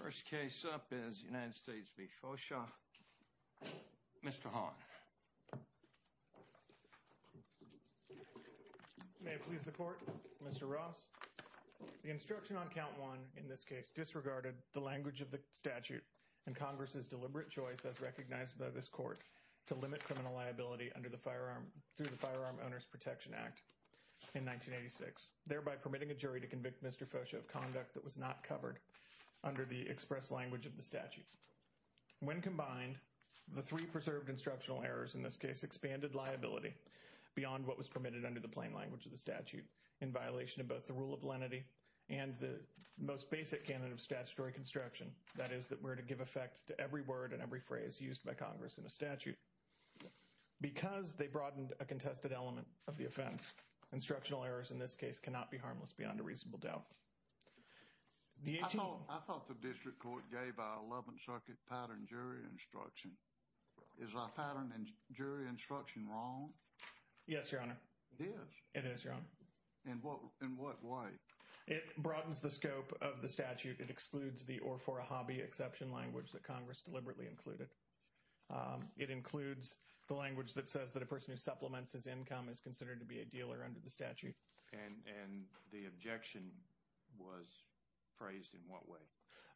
First case up is the United States v. Focia. Mr. Hahn. May it please the court. Mr. Ross, the instruction on count one in this case disregarded the language of the statute and Congress's deliberate choice as recognized by this court to limit criminal liability under the firearm, through the Firearm Owners Protection Act in 1986, thereby permitting a jury to convict Mr. Focia of conduct that was not covered under the express language of the statute. When combined, the three preserved instructional errors in this case expanded liability beyond what was permitted under the plain language of the statute in violation of both the rule of lenity and the most basic canon of statutory construction, that is, that were to give effect to every word and every phrase used by Congress in a statute. Because they broadened a contested element of the offense, instructional errors in this case cannot be harmless beyond a reasonable doubt. I thought the district court gave our 11th Circuit patterned jury instruction. Is our patterned jury instruction wrong? Yes, Your Honor. It is? It is, Your Honor. In what way? It broadens the scope of the statute. It excludes the or for a hobby exception language that Congress deliberately included. It includes the language that says that a person who supplements his income is considered to be a dealer under the statute. And the objection was phrased in what way?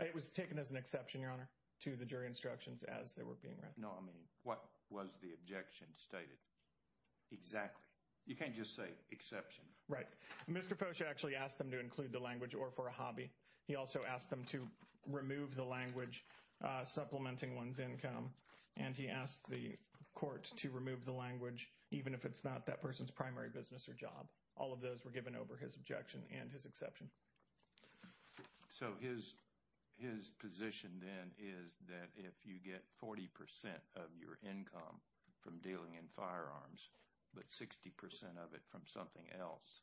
It was taken as an exception, Your Honor, to the jury instructions as they were being read. No, I mean, what was the objection stated? Exactly. You can't just say exception. Right. Mr. Focia actually asked them to include the language or for a hobby. He also asked them to remove the language supplementing one's income. And he asked the court to remove the language even if it's not that person's primary business or job. All of those were given over his objection and his exception. So his his position then is that if you get 40 percent of your income from dealing in firearms, but 60 percent of it from something else,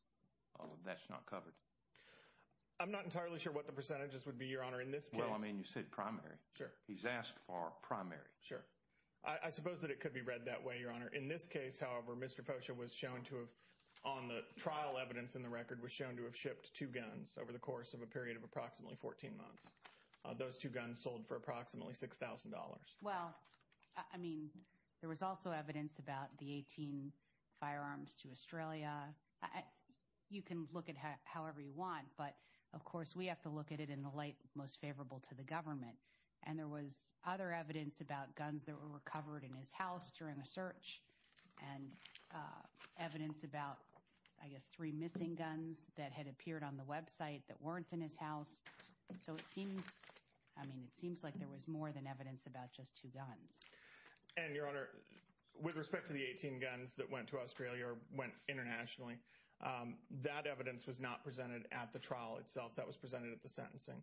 that's not covered. I'm not entirely sure what the percentages would be, Your Honor, in this case. Well, I mean, you said primary. Sure. He's asked for primary. Sure. I suppose that it could be read that way, Your Honor. In this case, however, Mr. Focia was shown to have on the trial. Evidence in the record was shown to have shipped two guns over the course of a period of approximately 14 months. Those two guns sold for approximately six thousand dollars. Well, I mean, there was also evidence about the 18 firearms to Australia. You can look at however you want, but of course, we have to look at it in the light most favorable to the government. And there was other evidence about guns that were recovered in his house during a search and evidence about, I guess, three missing guns that had appeared on the Web site that weren't in his house. So it seems I mean, it seems like there was more than evidence about just two guns. And your honor, with respect to the 18 guns that went to Australia or went internationally, that evidence was not presented at the trial itself that was presented at the sentencing.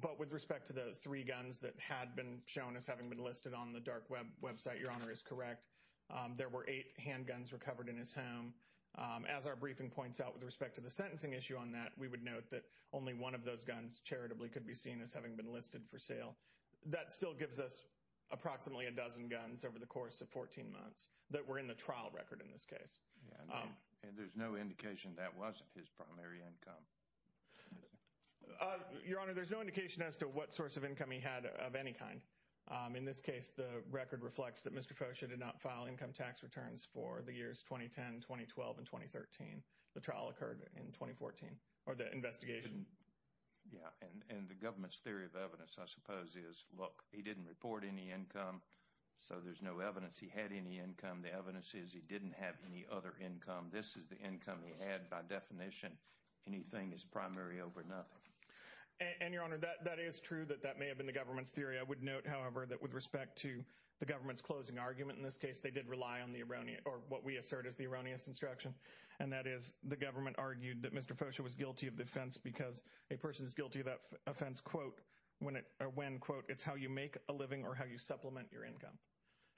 But with respect to the three guns that had been shown as having been listed on the dark Web website, your honor is correct. There were eight handguns recovered in his home. As our briefing points out, with respect to the sentencing issue on that, we would note that only one of those guns charitably could be seen as having been listed for sale. That still gives us approximately a dozen guns over the course of 14 months that were in the trial record in this case. And there's no indication that wasn't his primary income. Your honor, there's no indication as to what source of income he had of any kind. In this case, the record reflects that Mr. Fosha did not file income tax returns for the years 2010, 2012 and 2013. The trial occurred in 2014 or the investigation. Yeah. And the government's theory of evidence, I suppose, is, look, he didn't report any income. So there's no evidence he had any income. The evidence is he didn't have any other income. This is the income he had. By definition, anything is primary over nothing. And your honor, that is true that that may have been the government's theory. I would note, however, that with respect to the government's closing argument in this case, they did rely on the erroneous or what we assert is the erroneous instruction. And that is the government argued that Mr. Fosha was guilty of defense because a person is guilty of that offense. Quote, when it or when, quote, it's how you make a living or how you supplement your income.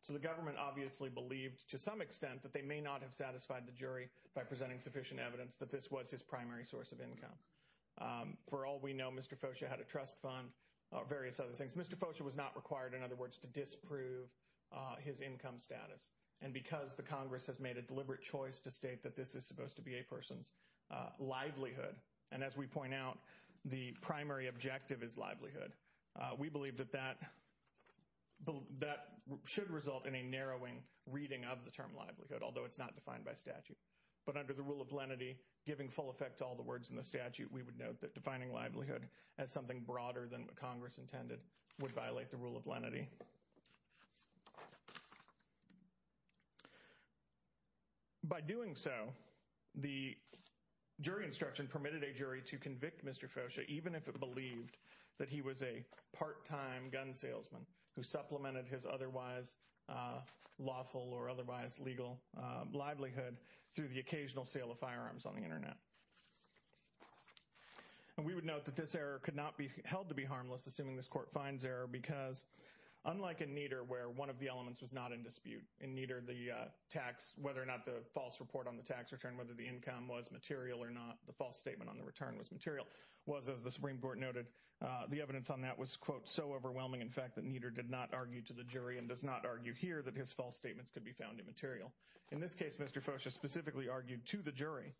So the government obviously believed to some extent that they may not have satisfied the jury by presenting sufficient evidence that this was his primary source of income. For all we know, Mr. Fosha had a trust fund, various other things. Mr. Fosha was not required, in other words, to disprove his income status. And because the Congress has made a deliberate choice to state that this is supposed to be a person's livelihood. And as we point out, the primary objective is livelihood. We believe that that should result in a narrowing reading of the term livelihood, although it's not defined by statute. But under the rule of lenity, giving full effect to all the words in the statute, we would note that defining livelihood as something broader than Congress intended would violate the rule of lenity. By doing so, the jury instruction permitted a jury to convict Mr. Fosha, even if it believed that he was a part time gun salesman who supplemented his otherwise lawful or otherwise legal livelihood through the occasional sale of firearms on the Internet. And we would note that this error could not be held to be harmless, assuming this court finds error. Because unlike in Nieder, where one of the elements was not in dispute in Nieder, the tax, whether or not the false report on the tax return, whether the income was material or not, the false statement on the return was material. Was, as the Supreme Court noted, the evidence on that was, quote, so overwhelming, in fact, that Nieder did not argue to the jury and does not argue here that his false statements could be found immaterial. In this case, Mr. Fosha specifically argued to the jury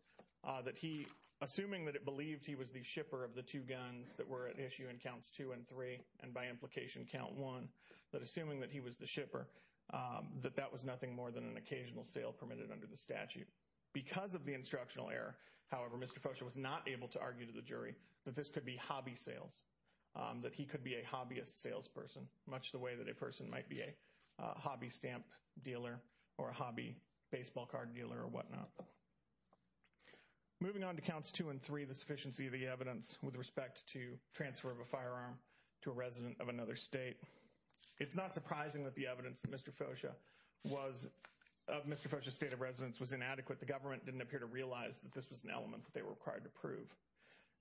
that he, assuming that it believed he was the shipper of the two guns that were at issue in counts two and three, and by implication count one, that assuming that he was the shipper, that that was nothing more than an occasional sale permitted under the statute. Because of the instructional error, however, Mr. Fosha was not able to argue to the jury that this could be hobby sales, that he could be a hobbyist salesperson, much the way that a person might be a hobby stamp dealer or a hobby baseball card dealer or whatnot. Moving on to counts two and three, the sufficiency of the evidence with respect to transfer of a firearm to a resident of another state. It's not surprising that the evidence that Mr. Fosha was of Mr. Fosha's state of residence was inadequate. The government didn't appear to realize that this was an element that they were required to prove.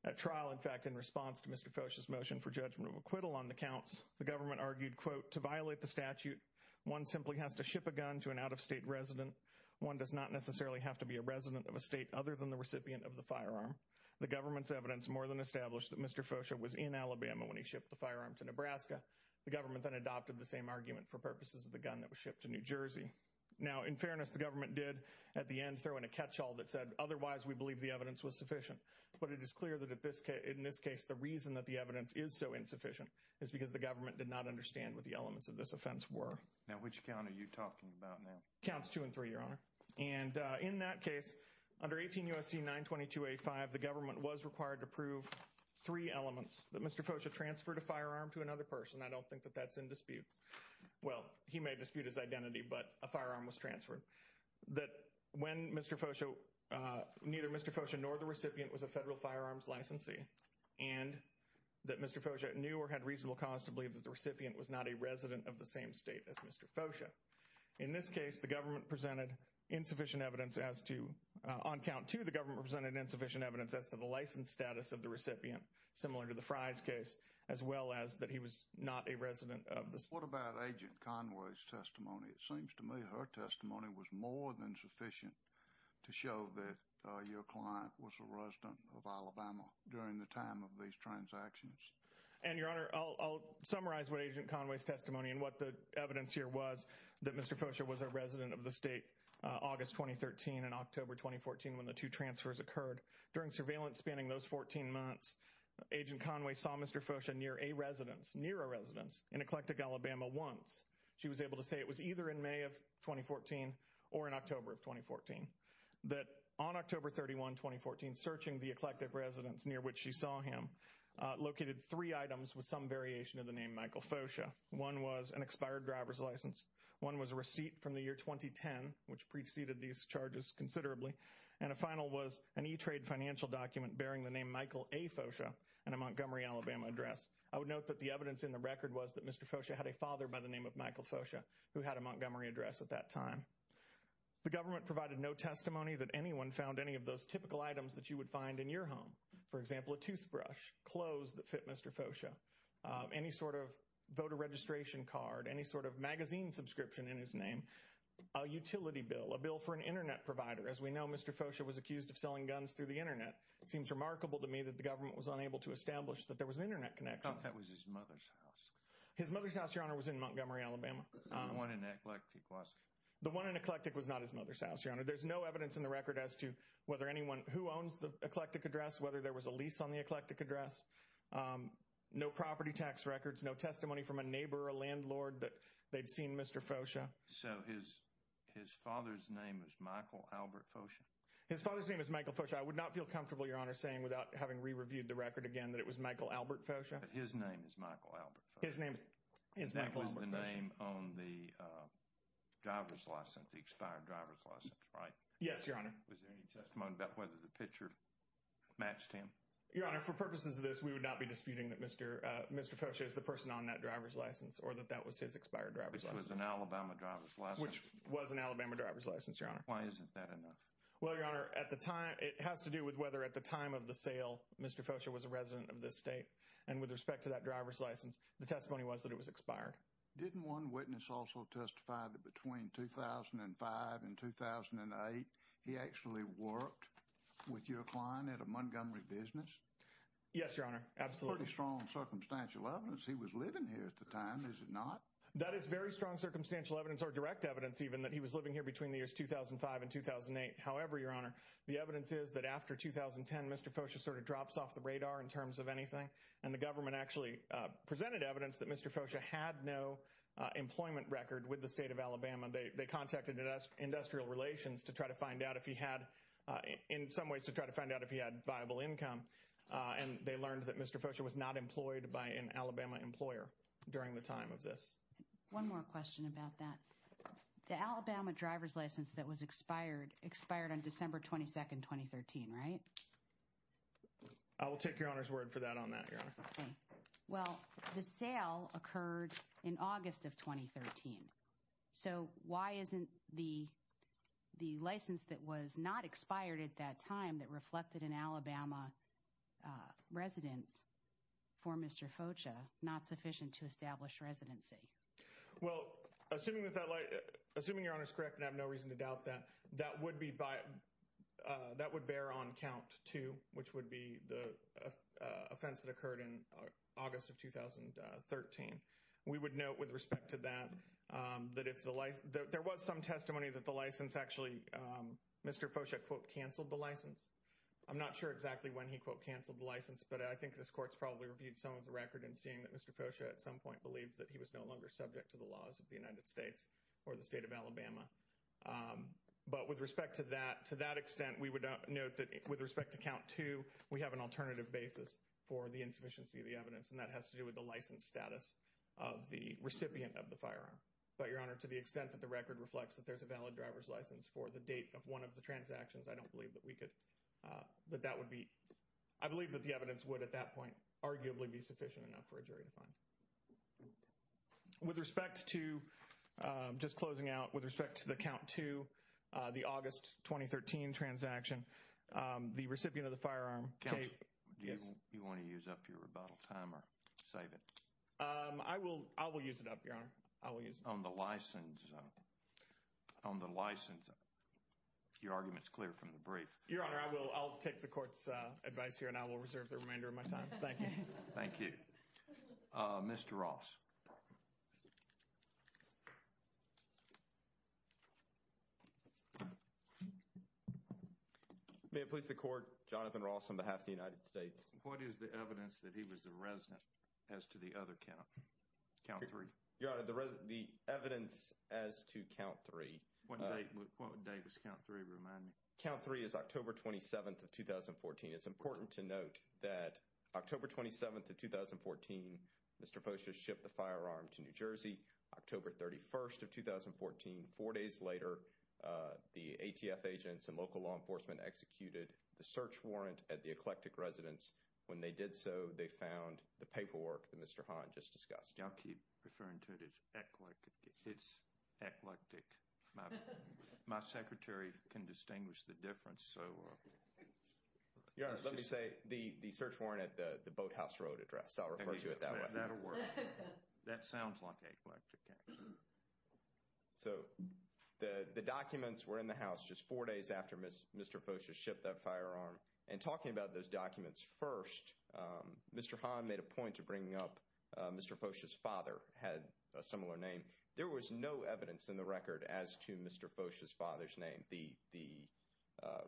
At trial, in fact, in response to Mr. Fosha's motion for judgment of acquittal on the counts, the government argued, quote, to violate the statute, one simply has to ship a gun to an out-of-state resident. One does not necessarily have to be a resident of a state other than the recipient of the firearm. The government's evidence more than established that Mr. Fosha was in Alabama when he shipped the firearm to Nebraska. The government then adopted the same argument for purposes of the gun that was shipped to New Jersey. Now, in fairness, the government did at the end throw in a catch-all that said, otherwise, we believe the evidence was sufficient. But it is clear that in this case, the reason that the evidence is so insufficient is because the government did not understand what the elements of this offense were. Now, which count are you talking about now? Counts two and three, Your Honor. And in that case, under 18 U.S.C. 922.85, the government was required to prove three elements that Mr. Fosha transferred a firearm to another person. I don't think that that's in dispute. Well, he may dispute his identity, but a firearm was transferred. That when Mr. Fosha, neither Mr. Fosha nor the recipient was a federal firearms licensee. And that Mr. Fosha knew or had reasonable cause to believe that the recipient was not a resident of the same state as Mr. Fosha. In this case, the government presented insufficient evidence as to, on count two, the government presented insufficient evidence as to the license status of the recipient. Similar to the Fry's case, as well as that he was not a resident of the state. What about Agent Conway's testimony? It seems to me her testimony was more than sufficient to show that your client was a resident of Alabama during the time of these transactions. And, Your Honor, I'll summarize what Agent Conway's testimony and what the evidence here was. That Mr. Fosha was a resident of the state August 2013 and October 2014 when the two transfers occurred. During surveillance spanning those 14 months, Agent Conway saw Mr. Fosha near a residence, near a residence in Eclectic Alabama once. She was able to say it was either in May of 2014 or in October of 2014. That on October 31, 2014, searching the Eclectic residence near which she saw him, located three items with some variation in the name Michael Fosha. One was an expired driver's license. One was a receipt from the year 2010, which preceded these charges considerably. And a final was an E-Trade financial document bearing the name Michael A. Fosha and a Montgomery, Alabama address. I would note that the evidence in the record was that Mr. Fosha had a father by the name of Michael Fosha who had a Montgomery address at that time. The government provided no testimony that anyone found any of those typical items that you would find in your home. For example, a toothbrush, clothes that fit Mr. Fosha, any sort of voter registration card, any sort of magazine subscription in his name, a utility bill, a bill for an internet provider. As we know, Mr. Fosha was accused of selling guns through the internet. It seems remarkable to me that the government was unable to establish that there was an internet connection. I thought that was his mother's house. His mother's house, Your Honor, was in Montgomery, Alabama. The one in Eclectic was? The one in Eclectic was not his mother's house, Your Honor. There's no evidence in the record as to whether anyone who owns the Eclectic address, whether there was a lease on the Eclectic address. No property tax records, no testimony from a neighbor or a landlord that they'd seen Mr. Fosha. So his father's name is Michael Albert Fosha? His father's name is Michael Fosha. I would not feel comfortable, Your Honor, saying without having re-reviewed the record again that it was Michael Albert Fosha. But his name is Michael Albert Fosha? His name is Michael Albert Fosha. That was the name on the driver's license, the expired driver's license, right? Yes, Your Honor. Was there any testimony about whether the picture matched him? Your Honor, for purposes of this, we would not be disputing that Mr. Fosha is the person on that driver's license or that that was his expired driver's license. Which was an Alabama driver's license? Which was an Alabama driver's license, Your Honor. Why isn't that enough? Well, Your Honor, at the time, it has to do with whether at the time of the sale, Mr. Fosha was a resident of this state. And with respect to that driver's license, the testimony was that it was expired. Didn't one witness also testify that between 2005 and 2008, he actually worked with your client at a Montgomery business? Yes, Your Honor. Absolutely. Pretty strong circumstantial evidence he was living here at the time, is it not? That is very strong circumstantial evidence or direct evidence even that he was living here between the years 2005 and 2008. However, Your Honor, the evidence is that after 2010, Mr. Fosha sort of drops off the radar in terms of anything. And the government actually presented evidence that Mr. Fosha had no employment record with the state of Alabama. They contacted Industrial Relations to try to find out if he had in some ways to try to find out if he had viable income. And they learned that Mr. Fosha was not employed by an Alabama employer during the time of this. One more question about that. The Alabama driver's license that was expired expired on December 22, 2013, right? I will take Your Honor's word for that on that, Your Honor. Okay. Well, the sale occurred in August of 2013. So why isn't the license that was not expired at that time that reflected an Alabama residence for Mr. Fosha not sufficient to establish residency? Well, assuming Your Honor is correct, and I have no reason to doubt that, that would bear on count too, which would be the offense that occurred in August of 2013. We would note with respect to that, that there was some testimony that the license actually, Mr. Fosha, quote, canceled the license. I'm not sure exactly when he, quote, canceled the license. But I think this court's probably reviewed someone's record in seeing that Mr. Fosha at some point believed that he was no longer subject to the laws of the United States or the state of Alabama. But with respect to that, to that extent, we would note that with respect to count two, we have an alternative basis for the insufficiency of the evidence. And that has to do with the license status of the recipient of the firearm. But, Your Honor, to the extent that the record reflects that there's a valid driver's license for the date of one of the transactions, I don't believe that we could, that that would be, I believe that the evidence would at that point arguably be sufficient enough for a jury to find. With respect to, just closing out, with respect to the count two, the August 2013 transaction, the recipient of the firearm. Counsel, do you want to use up your rebuttal time or save it? I will, I will use it up, Your Honor. I will use it up. On the license, on the license, your argument's clear from the brief. Your Honor, I will, I'll take the court's advice here and I will reserve the remainder of my time. Thank you. Thank you. Mr. Ross. May it please the court, Jonathan Ross on behalf of the United States. What is the evidence that he was a resident as to the other count, count three? Your Honor, the evidence as to count three. What date, what date does count three remind me? Count three is October 27th of 2014. It's important to note that October 27th of 2014, Mr. Poster shipped the firearm to New Jersey. October 31st of 2014, four days later, the ATF agents and local law enforcement executed the search warrant at the Eclectic residence. When they did so, they found the paperwork that Mr. Hahn just discussed. I'll keep referring to it as eclectic. It's eclectic. My secretary can distinguish the difference, so. Your Honor, let me say the search warrant at the Boathouse Road address. I'll refer to it that way. That'll work. That sounds like eclectic, actually. So the documents were in the house just four days after Mr. Foster shipped that firearm. And talking about those documents first, Mr. Hahn made a point of bringing up Mr. Foster's father had a similar name. There was no evidence in the record as to Mr. Foster's father's name. The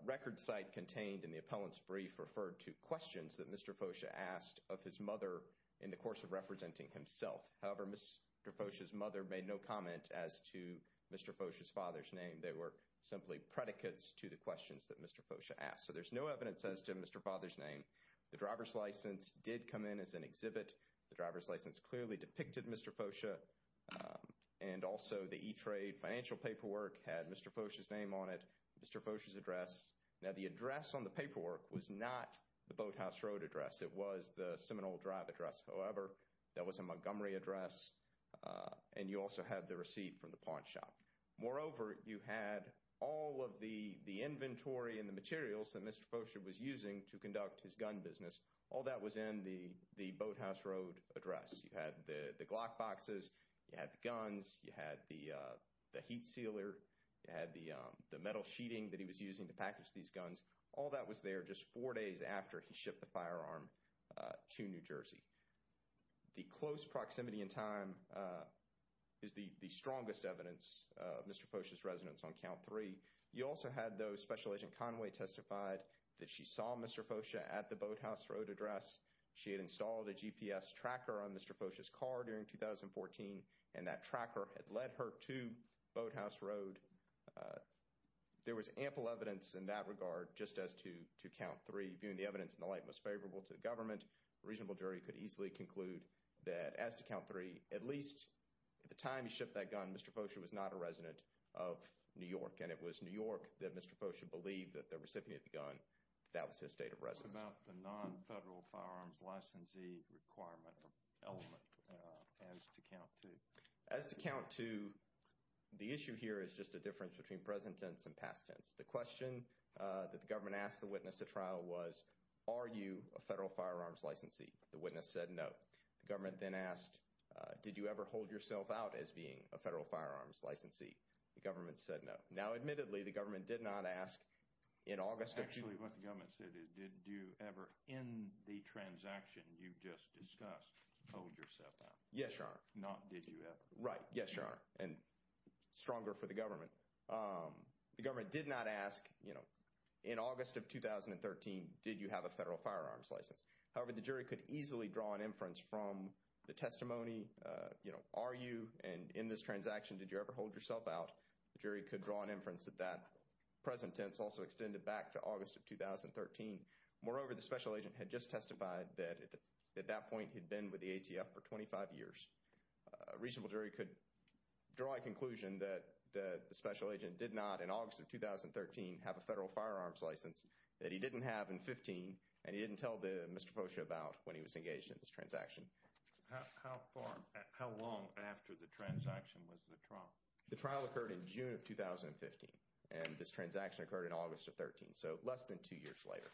record site contained in the appellant's brief referred to questions that Mr. Foster asked of his mother in the course of representing himself. However, Mr. Foster's mother made no comment as to Mr. Foster's father's name. They were simply predicates to the questions that Mr. Foster asked. So there's no evidence as to Mr. Foster's name. The driver's license did come in as an exhibit. The driver's license clearly depicted Mr. Foster. And also the E-Trade financial paperwork had Mr. Foster's name on it. Mr. Foster's address. Now, the address on the paperwork was not the Boathouse Road address. It was the Seminole Drive address. However, that was a Montgomery address. And you also had the receipt from the pawn shop. Moreover, you had all of the inventory and the materials that Mr. Foster was using to conduct his gun business. All that was in the Boathouse Road address. You had the Glock boxes. You had the guns. You had the heat sealer. You had the metal sheeting that he was using to package these guns. All that was there just four days after he shipped the firearm to New Jersey. The close proximity in time is the strongest evidence of Mr. Foster's residence on Count 3. You also had, though, Special Agent Conway testified that she saw Mr. Foster at the Boathouse Road address. She had installed a GPS tracker on Mr. Foster's car during 2014. And that tracker had led her to Boathouse Road. There was ample evidence in that regard just as to Count 3. Viewing the evidence in the light most favorable to the government, a reasonable jury could easily conclude that as to Count 3, at least at the time he shipped that gun, Mr. Foster was not a resident of New York, and it was New York that Mr. Foster believed that the recipient of the gun, that was his state of residence. What about the non-federal firearms licensee requirement element as to Count 2? As to Count 2, the issue here is just a difference between present tense and past tense. The question that the government asked the witness at trial was, are you a federal firearms licensee? The witness said no. The government then asked, did you ever hold yourself out as being a federal firearms licensee? The government said no. Now, admittedly, the government did not ask in August of— Actually, what the government said is, did you ever, in the transaction you just discussed, hold yourself out? Yes, Your Honor. Not did you ever. Right. Yes, Your Honor. And stronger for the government. The government did not ask, you know, in August of 2013, did you have a federal firearms license? However, the jury could easily draw an inference from the testimony, you know, are you, and in this transaction, did you ever hold yourself out? The jury could draw an inference that that present tense also extended back to August of 2013. Moreover, the special agent had just testified that at that point he'd been with the ATF for 25 years. A reasonable jury could draw a conclusion that the special agent did not, in August of 2013, have a federal firearms license that he didn't have in 2015, and he didn't tell Mr. Posha about when he was engaged in this transaction. How long after the transaction was the trial? The trial occurred in June of 2015, and this transaction occurred in August of 2013, so less than two years later.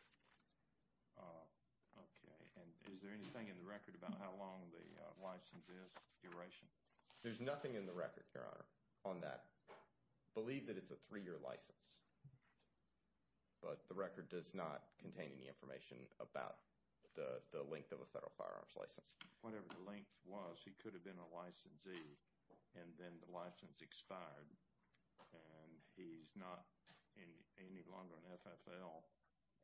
Okay. And is there anything in the record about how long the license is, duration? There's nothing in the record, Your Honor, on that. I believe that it's a three-year license, but the record does not contain any information about the length of a federal firearms license. Whatever the length was, he could have been a licensee, and then the license expired, and he's not any longer an FFL,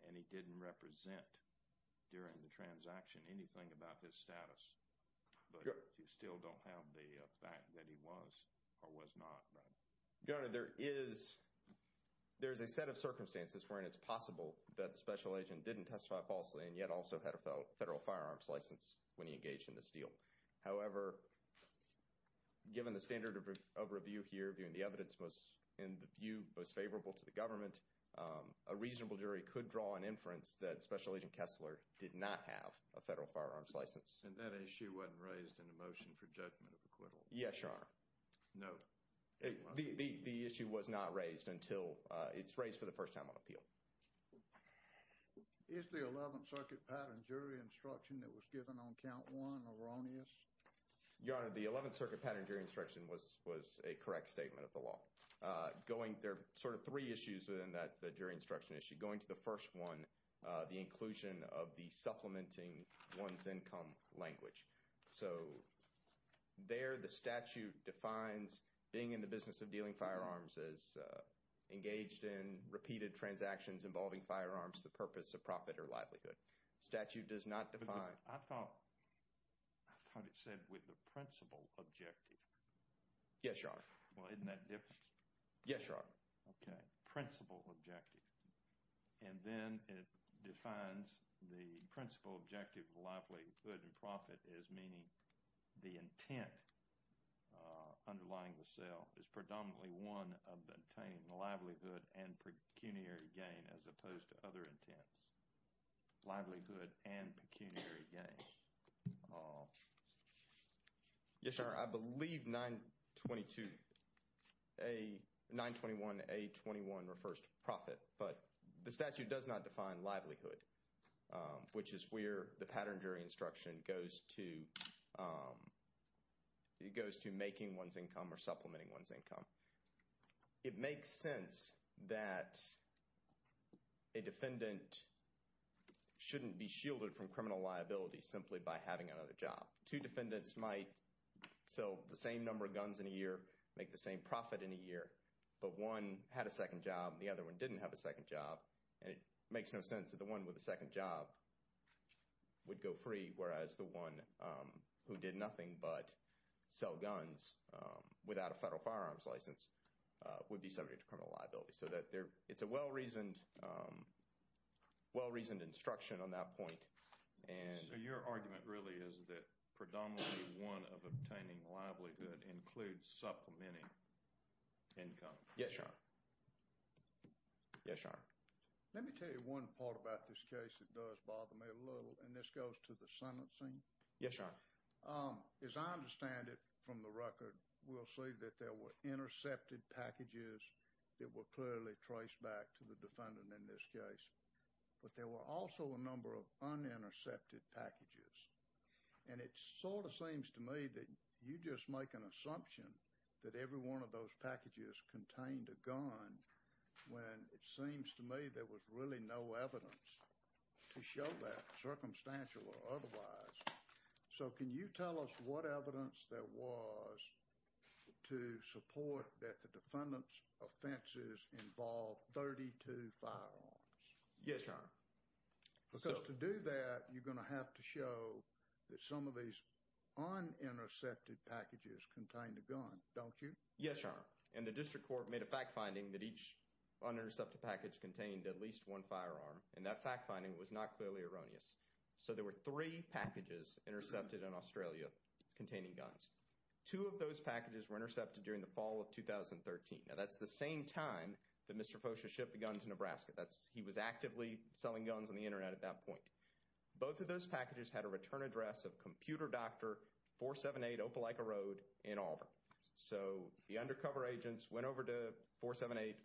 and he didn't represent during the transaction anything about his status. But you still don't have the fact that he was or was not, right? Your Honor, there is a set of circumstances wherein it's possible that the special agent didn't testify falsely and yet also had a federal firearms license when he engaged in this deal. However, given the standard of review here, viewing the evidence in the view most favorable to the government, a reasonable jury could draw an inference that special agent Kessler did not have a federal firearms license. And that issue wasn't raised in the motion for judgment of acquittal? Yes, Your Honor. No. The issue was not raised until it's raised for the first time on appeal. Is the 11th Circuit pattern jury instruction that was given on count one erroneous? Your Honor, the 11th Circuit pattern jury instruction was a correct statement of the law. There are sort of three issues within that jury instruction issue. Going to the first one, the inclusion of the supplementing one's income language. So there the statute defines being in the business of dealing firearms as engaged in repeated transactions involving firearms, the purpose of profit or livelihood. Statute does not define. I thought it said with the principal objective. Yes, Your Honor. Well, isn't that different? Yes, Your Honor. Okay. Principal objective. And then it defines the principal objective of livelihood and profit as meaning the intent underlying the sale is predominantly one of obtaining the livelihood and pecuniary gain as opposed to other intents. Livelihood and pecuniary gain. Yes, Your Honor. I believe 922A, 921A21 refers to profit, but the statute does not define livelihood, which is where the pattern jury instruction goes to. It goes to making one's income or supplementing one's income. It makes sense that a defendant shouldn't be shielded from criminal liability simply by having another job. Two defendants might sell the same number of guns in a year, make the same profit in a year, but one had a second job and the other one didn't have a second job, and it makes no sense that the one with the second job would go free, whereas the one who did nothing but sell guns without a federal firearms license would be subject to criminal liability. So it's a well-reasoned instruction on that point. So your argument really is that predominantly one of obtaining livelihood includes supplementing income. Yes, Your Honor. Yes, Your Honor. Let me tell you one part about this case that does bother me a little, and this goes to the sentencing. Yes, Your Honor. As I understand it from the record, we'll see that there were intercepted packages that were clearly traced back to the defendant in this case, but there were also a number of unintercepted packages, and it sort of seems to me that you just make an assumption that every one of those packages contained a gun when it seems to me there was really no evidence to show that, circumstantial or otherwise. So can you tell us what evidence there was to support that the defendant's offenses involved 32 firearms? Yes, Your Honor. Because to do that, you're going to have to show that some of these unintercepted packages contained a gun, don't you? Yes, Your Honor. And the district court made a fact finding that each unintercepted package contained at least one firearm, and that fact finding was not clearly erroneous. So there were three packages intercepted in Australia containing guns. Two of those packages were intercepted during the fall of 2013. Now, that's the same time that Mr. Focia shipped the gun to Nebraska. He was actively selling guns on the Internet at that point. Both of those packages had a return address of Computer Doctor 478 Opelika Road in Auburn. So the undercover agents went over to 478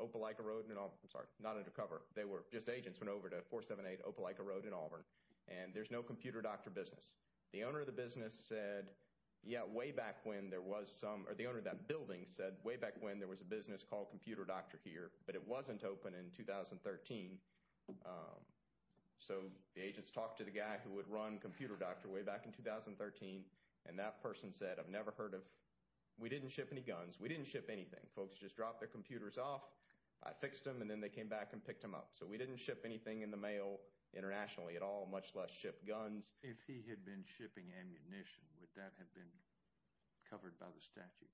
Opelika Road in Auburn. I'm sorry, not undercover. They were just agents went over to 478 Opelika Road in Auburn, and there's no Computer Doctor business. The owner of the business said, yeah, way back when there was some, or the owner of that building said way back when there was a business called Computer Doctor here, but it wasn't open in 2013. So the agents talked to the guy who would run Computer Doctor way back in 2013, and that person said, I've never heard of, we didn't ship any guns. We didn't ship anything. Folks just dropped their computers off. I fixed them, and then they came back and picked them up. So we didn't ship anything in the mail internationally at all, much less ship guns. If he had been shipping ammunition, would that have been covered by the statute?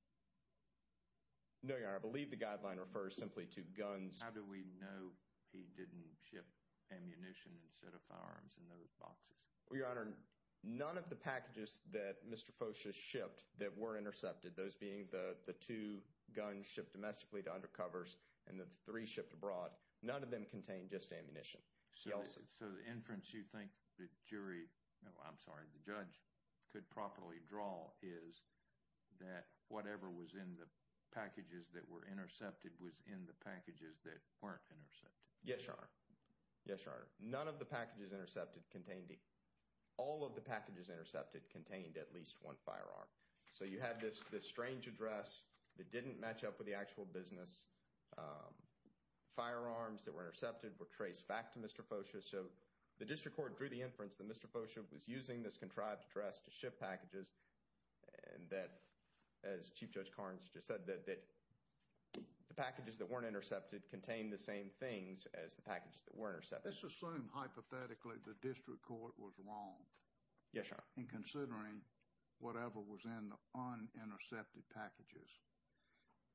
No, Your Honor. I believe the guideline refers simply to guns. How do we know he didn't ship ammunition instead of firearms in those boxes? Well, Your Honor, none of the packages that Mr. Fosha shipped that were intercepted, those being the two guns shipped domestically to undercovers and the three shipped abroad, none of them contained just ammunition. So the inference you think the jury, I'm sorry, the judge could properly draw is that whatever was in the packages that were intercepted was in the packages that weren't intercepted. Yes, Your Honor. Yes, Your Honor. All of the packages intercepted contained at least one firearm. So you had this strange address that didn't match up with the actual business. Firearms that were intercepted were traced back to Mr. Fosha. So the district court drew the inference that Mr. Fosha was using this contrived address to ship packages and that, as Chief Judge Carnes just said, that the packages that weren't intercepted contained the same things as the packages that were intercepted. Let's assume hypothetically the district court was wrong. Yes, Your Honor. In considering whatever was in the unintercepted packages.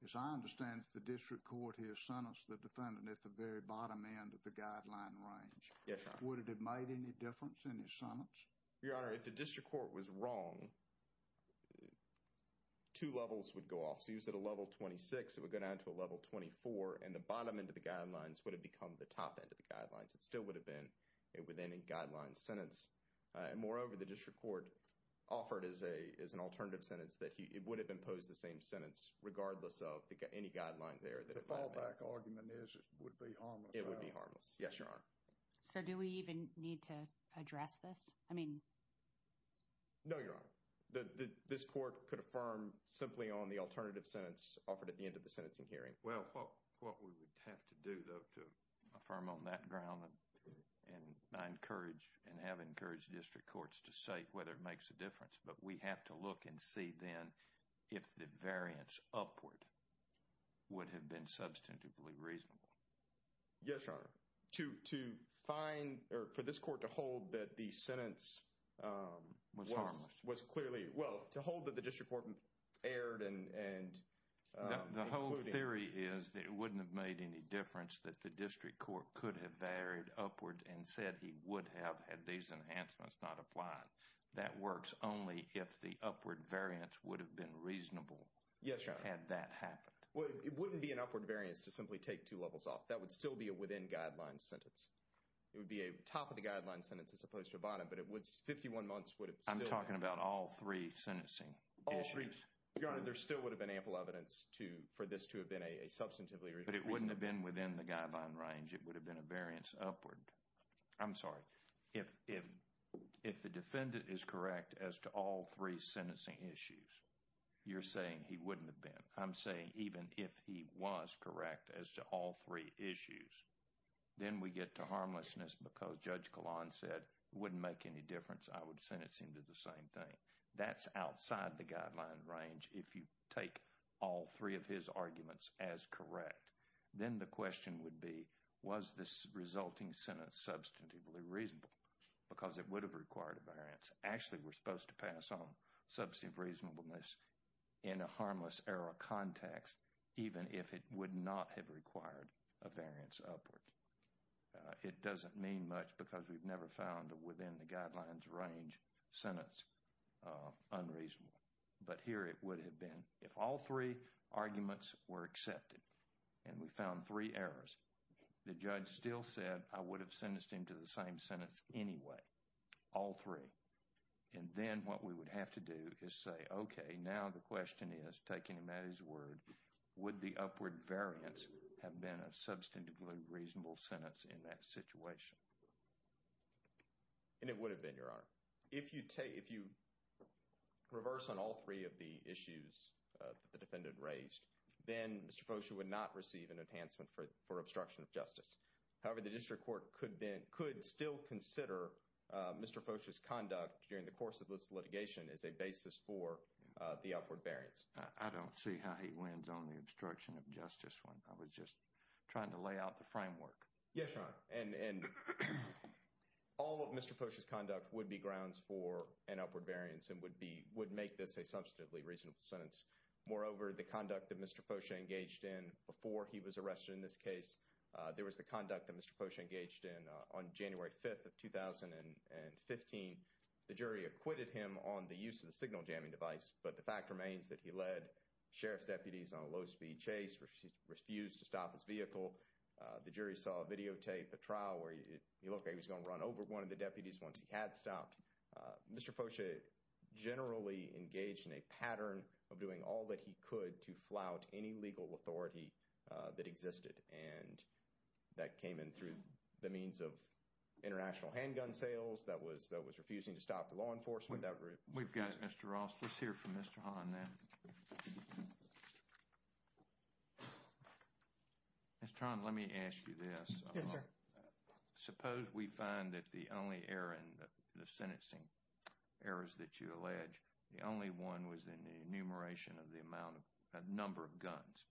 As I understand it, the district court here sentenced the defendant at the very bottom end of the guideline range. Yes, Your Honor. Would it have made any difference in his sentence? Your Honor, if the district court was wrong, two levels would go off. So he was at a level 26, it would go down to a level 24, and the bottom end of the guidelines would have become the top end of the guidelines. It still would have been within a guideline sentence. Moreover, the district court offered as an alternative sentence that it would have imposed the same sentence regardless of any guidelines there. The fallback argument is it would be harmless. It would be harmless. Yes, Your Honor. So do we even need to address this? I mean... No, Your Honor. This court could affirm simply on the alternative sentence offered at the end of the sentencing hearing. Well, what we would have to do, though, to affirm on that ground, and I encourage and have encouraged district courts to say whether it makes a difference, but we have to look and see then if the variance upward would have been substantively reasonable. Yes, Your Honor. To find, or for this court to hold that the sentence... Was harmless. Was clearly, well, to hold that the district court erred and... The whole theory is that it wouldn't have made any difference that the district court could have erred upward and said he would have had these enhancements not applied. That works only if the upward variance would have been reasonable. Yes, Your Honor. Had that happened. Well, it wouldn't be an upward variance to simply take two levels off. That would still be a within-guidelines sentence. It would be a top-of-the-guidelines sentence as opposed to a bottom, but 51 months would have still... I'm talking about all three sentencing issues. Your Honor, there still would have been ample evidence for this to have been a substantively reasonable... But it wouldn't have been within the guideline range. It would have been a variance upward. I'm sorry. If the defendant is correct as to all three sentencing issues, you're saying he wouldn't have been. I'm saying even if he was correct as to all three issues, then we get to harmlessness because Judge Kahlon said it wouldn't make any difference. I would sentence him to the same thing. That's outside the guideline range if you take all three of his arguments as correct. Then the question would be, was this resulting sentence substantively reasonable? Because it would have required a variance. Actually, we're supposed to pass on substantive reasonableness in a harmless-error context even if it would not have required a variance upward. It doesn't mean much because we've never found within the guidelines range sentence unreasonable. But here it would have been. If all three arguments were accepted and we found three errors, the judge still said, I would have sentenced him to the same sentence anyway, all three. And then what we would have to do is say, okay, now the question is, taking Mattie's word, would the upward variance have been a substantively reasonable sentence in that situation? And it would have been, Your Honor. If you reverse on all three of the issues that the defendant raised, then Mr. Focia would not receive an enhancement for obstruction of justice. However, the district court could still consider Mr. Focia's conduct during the course of this litigation as a basis for the upward variance. I don't see how he wins on the obstruction of justice one. I was just trying to lay out the framework. Yes, Your Honor. And all of Mr. Focia's conduct would be grounds for an upward variance and would make this a substantively reasonable sentence. Moreover, the conduct that Mr. Focia engaged in before he was arrested in this case, there was the conduct that Mr. Focia engaged in on January 5th of 2015. The jury acquitted him on the use of the signal jamming device, but the fact remains that he led sheriff's deputies on a low-speed chase, refused to stop his vehicle. The jury saw a videotape, a trial, where he looked like he was going to run over one of the deputies once he had stopped. Mr. Focia generally engaged in a pattern of doing all that he could to flout any legal authority that existed. And that came in through the means of international handgun sales that was refusing to stop the law enforcement. We've got Mr. Ross. Let's hear from Mr. Hahn now. Ms. Tran, let me ask you this. Yes, sir. Suppose we find that the only error in the sentencing errors that you allege, the only one was in the enumeration of the number of guns.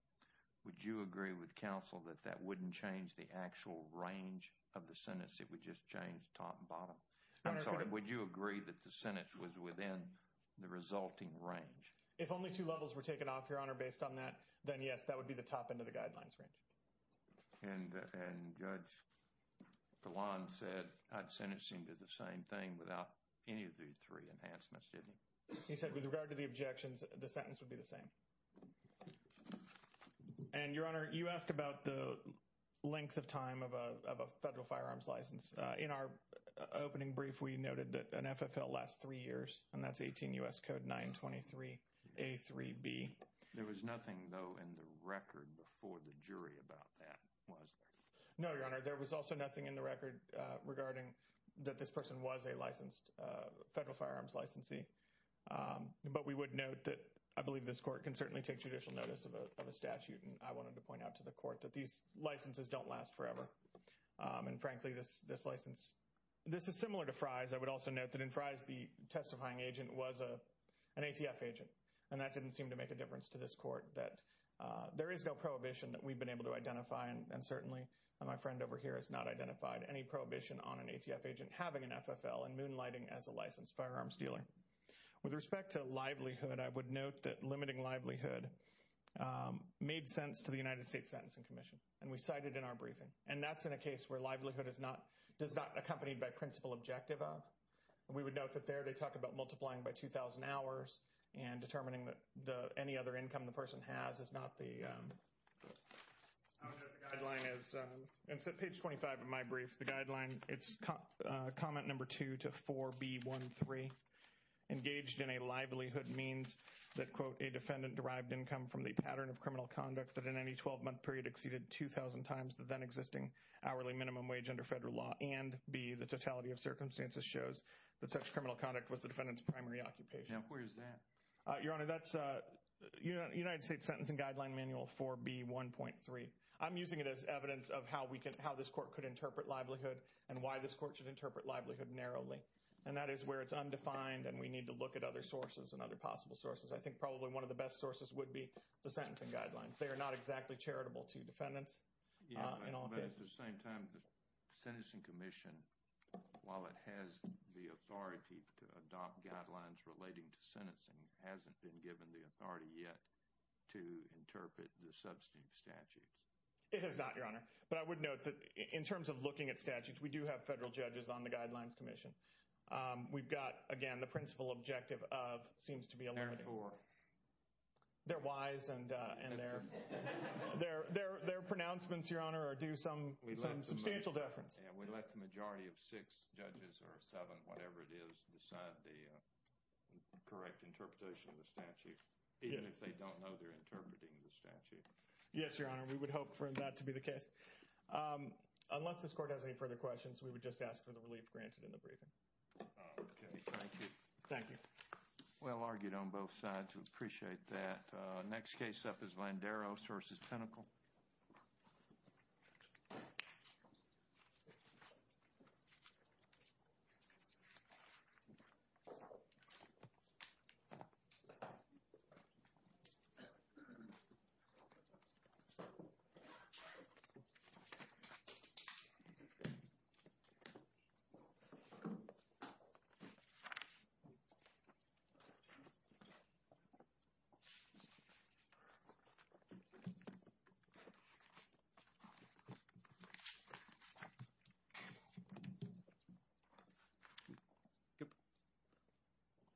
Would you agree with counsel that that wouldn't change the actual range of the sentence? It would just change top and bottom? I'm sorry. Would you agree that the sentence was within the resulting range? If only two levels were taken off, Your Honor, based on that, then yes, that would be the top end of the guidelines range. And Judge Dilan said that sentencing did the same thing without any of the three enhancements, didn't he? He said with regard to the objections, the sentence would be the same. And, Your Honor, you asked about the length of time of a federal firearms license. In our opening brief, we noted that an FFL lasts three years. And that's 18 U.S. Code 923A3B. There was nothing, though, in the record before the jury about that, was there? No, Your Honor. There was also nothing in the record regarding that this person was a licensed federal firearms licensee. But we would note that I believe this court can certainly take judicial notice of a statute. And I wanted to point out to the court that these licenses don't last forever. And, frankly, this license, this is similar to Frye's. I would also note that in Frye's, the testifying agent was an ATF agent. And that didn't seem to make a difference to this court that there is no prohibition that we've been able to identify. And certainly my friend over here has not identified any prohibition on an ATF agent having an FFL and moonlighting as a licensed firearms dealer. With respect to livelihood, I would note that limiting livelihood made sense to the United States Sentencing Commission. And we cited in our briefing. And that's in a case where livelihood is not accompanied by principal objective of. We would note that there they talk about multiplying by 2,000 hours and determining that any other income the person has is not the guideline. And so page 25 of my brief, the guideline, it's comment number 2 to 4B13. Engaged in a livelihood means that, quote, any defendant derived income from the pattern of criminal conduct that in any 12-month period exceeded 2,000 times the then existing hourly minimum wage under federal law. And, B, the totality of circumstances shows that such criminal conduct was the defendant's primary occupation. Now, where is that? Your Honor, that's United States Sentencing Guideline Manual 4B1.3. I'm using it as evidence of how this court could interpret livelihood and why this court should interpret livelihood narrowly. And that is where it's undefined and we need to look at other sources and other possible sources. I think probably one of the best sources would be the sentencing guidelines. They are not exactly charitable to defendants in all cases. But at the same time, the Sentencing Commission, while it has the authority to adopt guidelines relating to sentencing, hasn't been given the authority yet to interpret the substantive statutes. It has not, Your Honor. But I would note that in terms of looking at statutes, we do have federal judges on the Guidelines Commission. We've got, again, the principal objective of, seems to be a limited... Therefore. Their whys and their pronouncements, Your Honor, are due some substantial deference. We let the majority of six judges or seven, whatever it is, decide the correct interpretation of the statute, even if they don't know they're interpreting the statute. Yes, Your Honor, we would hope for that to be the case. Unless this court has any further questions, we would just ask for the relief granted in the briefing. Okay. Thank you. Thank you. Well argued on both sides. We appreciate that. Next case up is Landeros v. Pinnacle.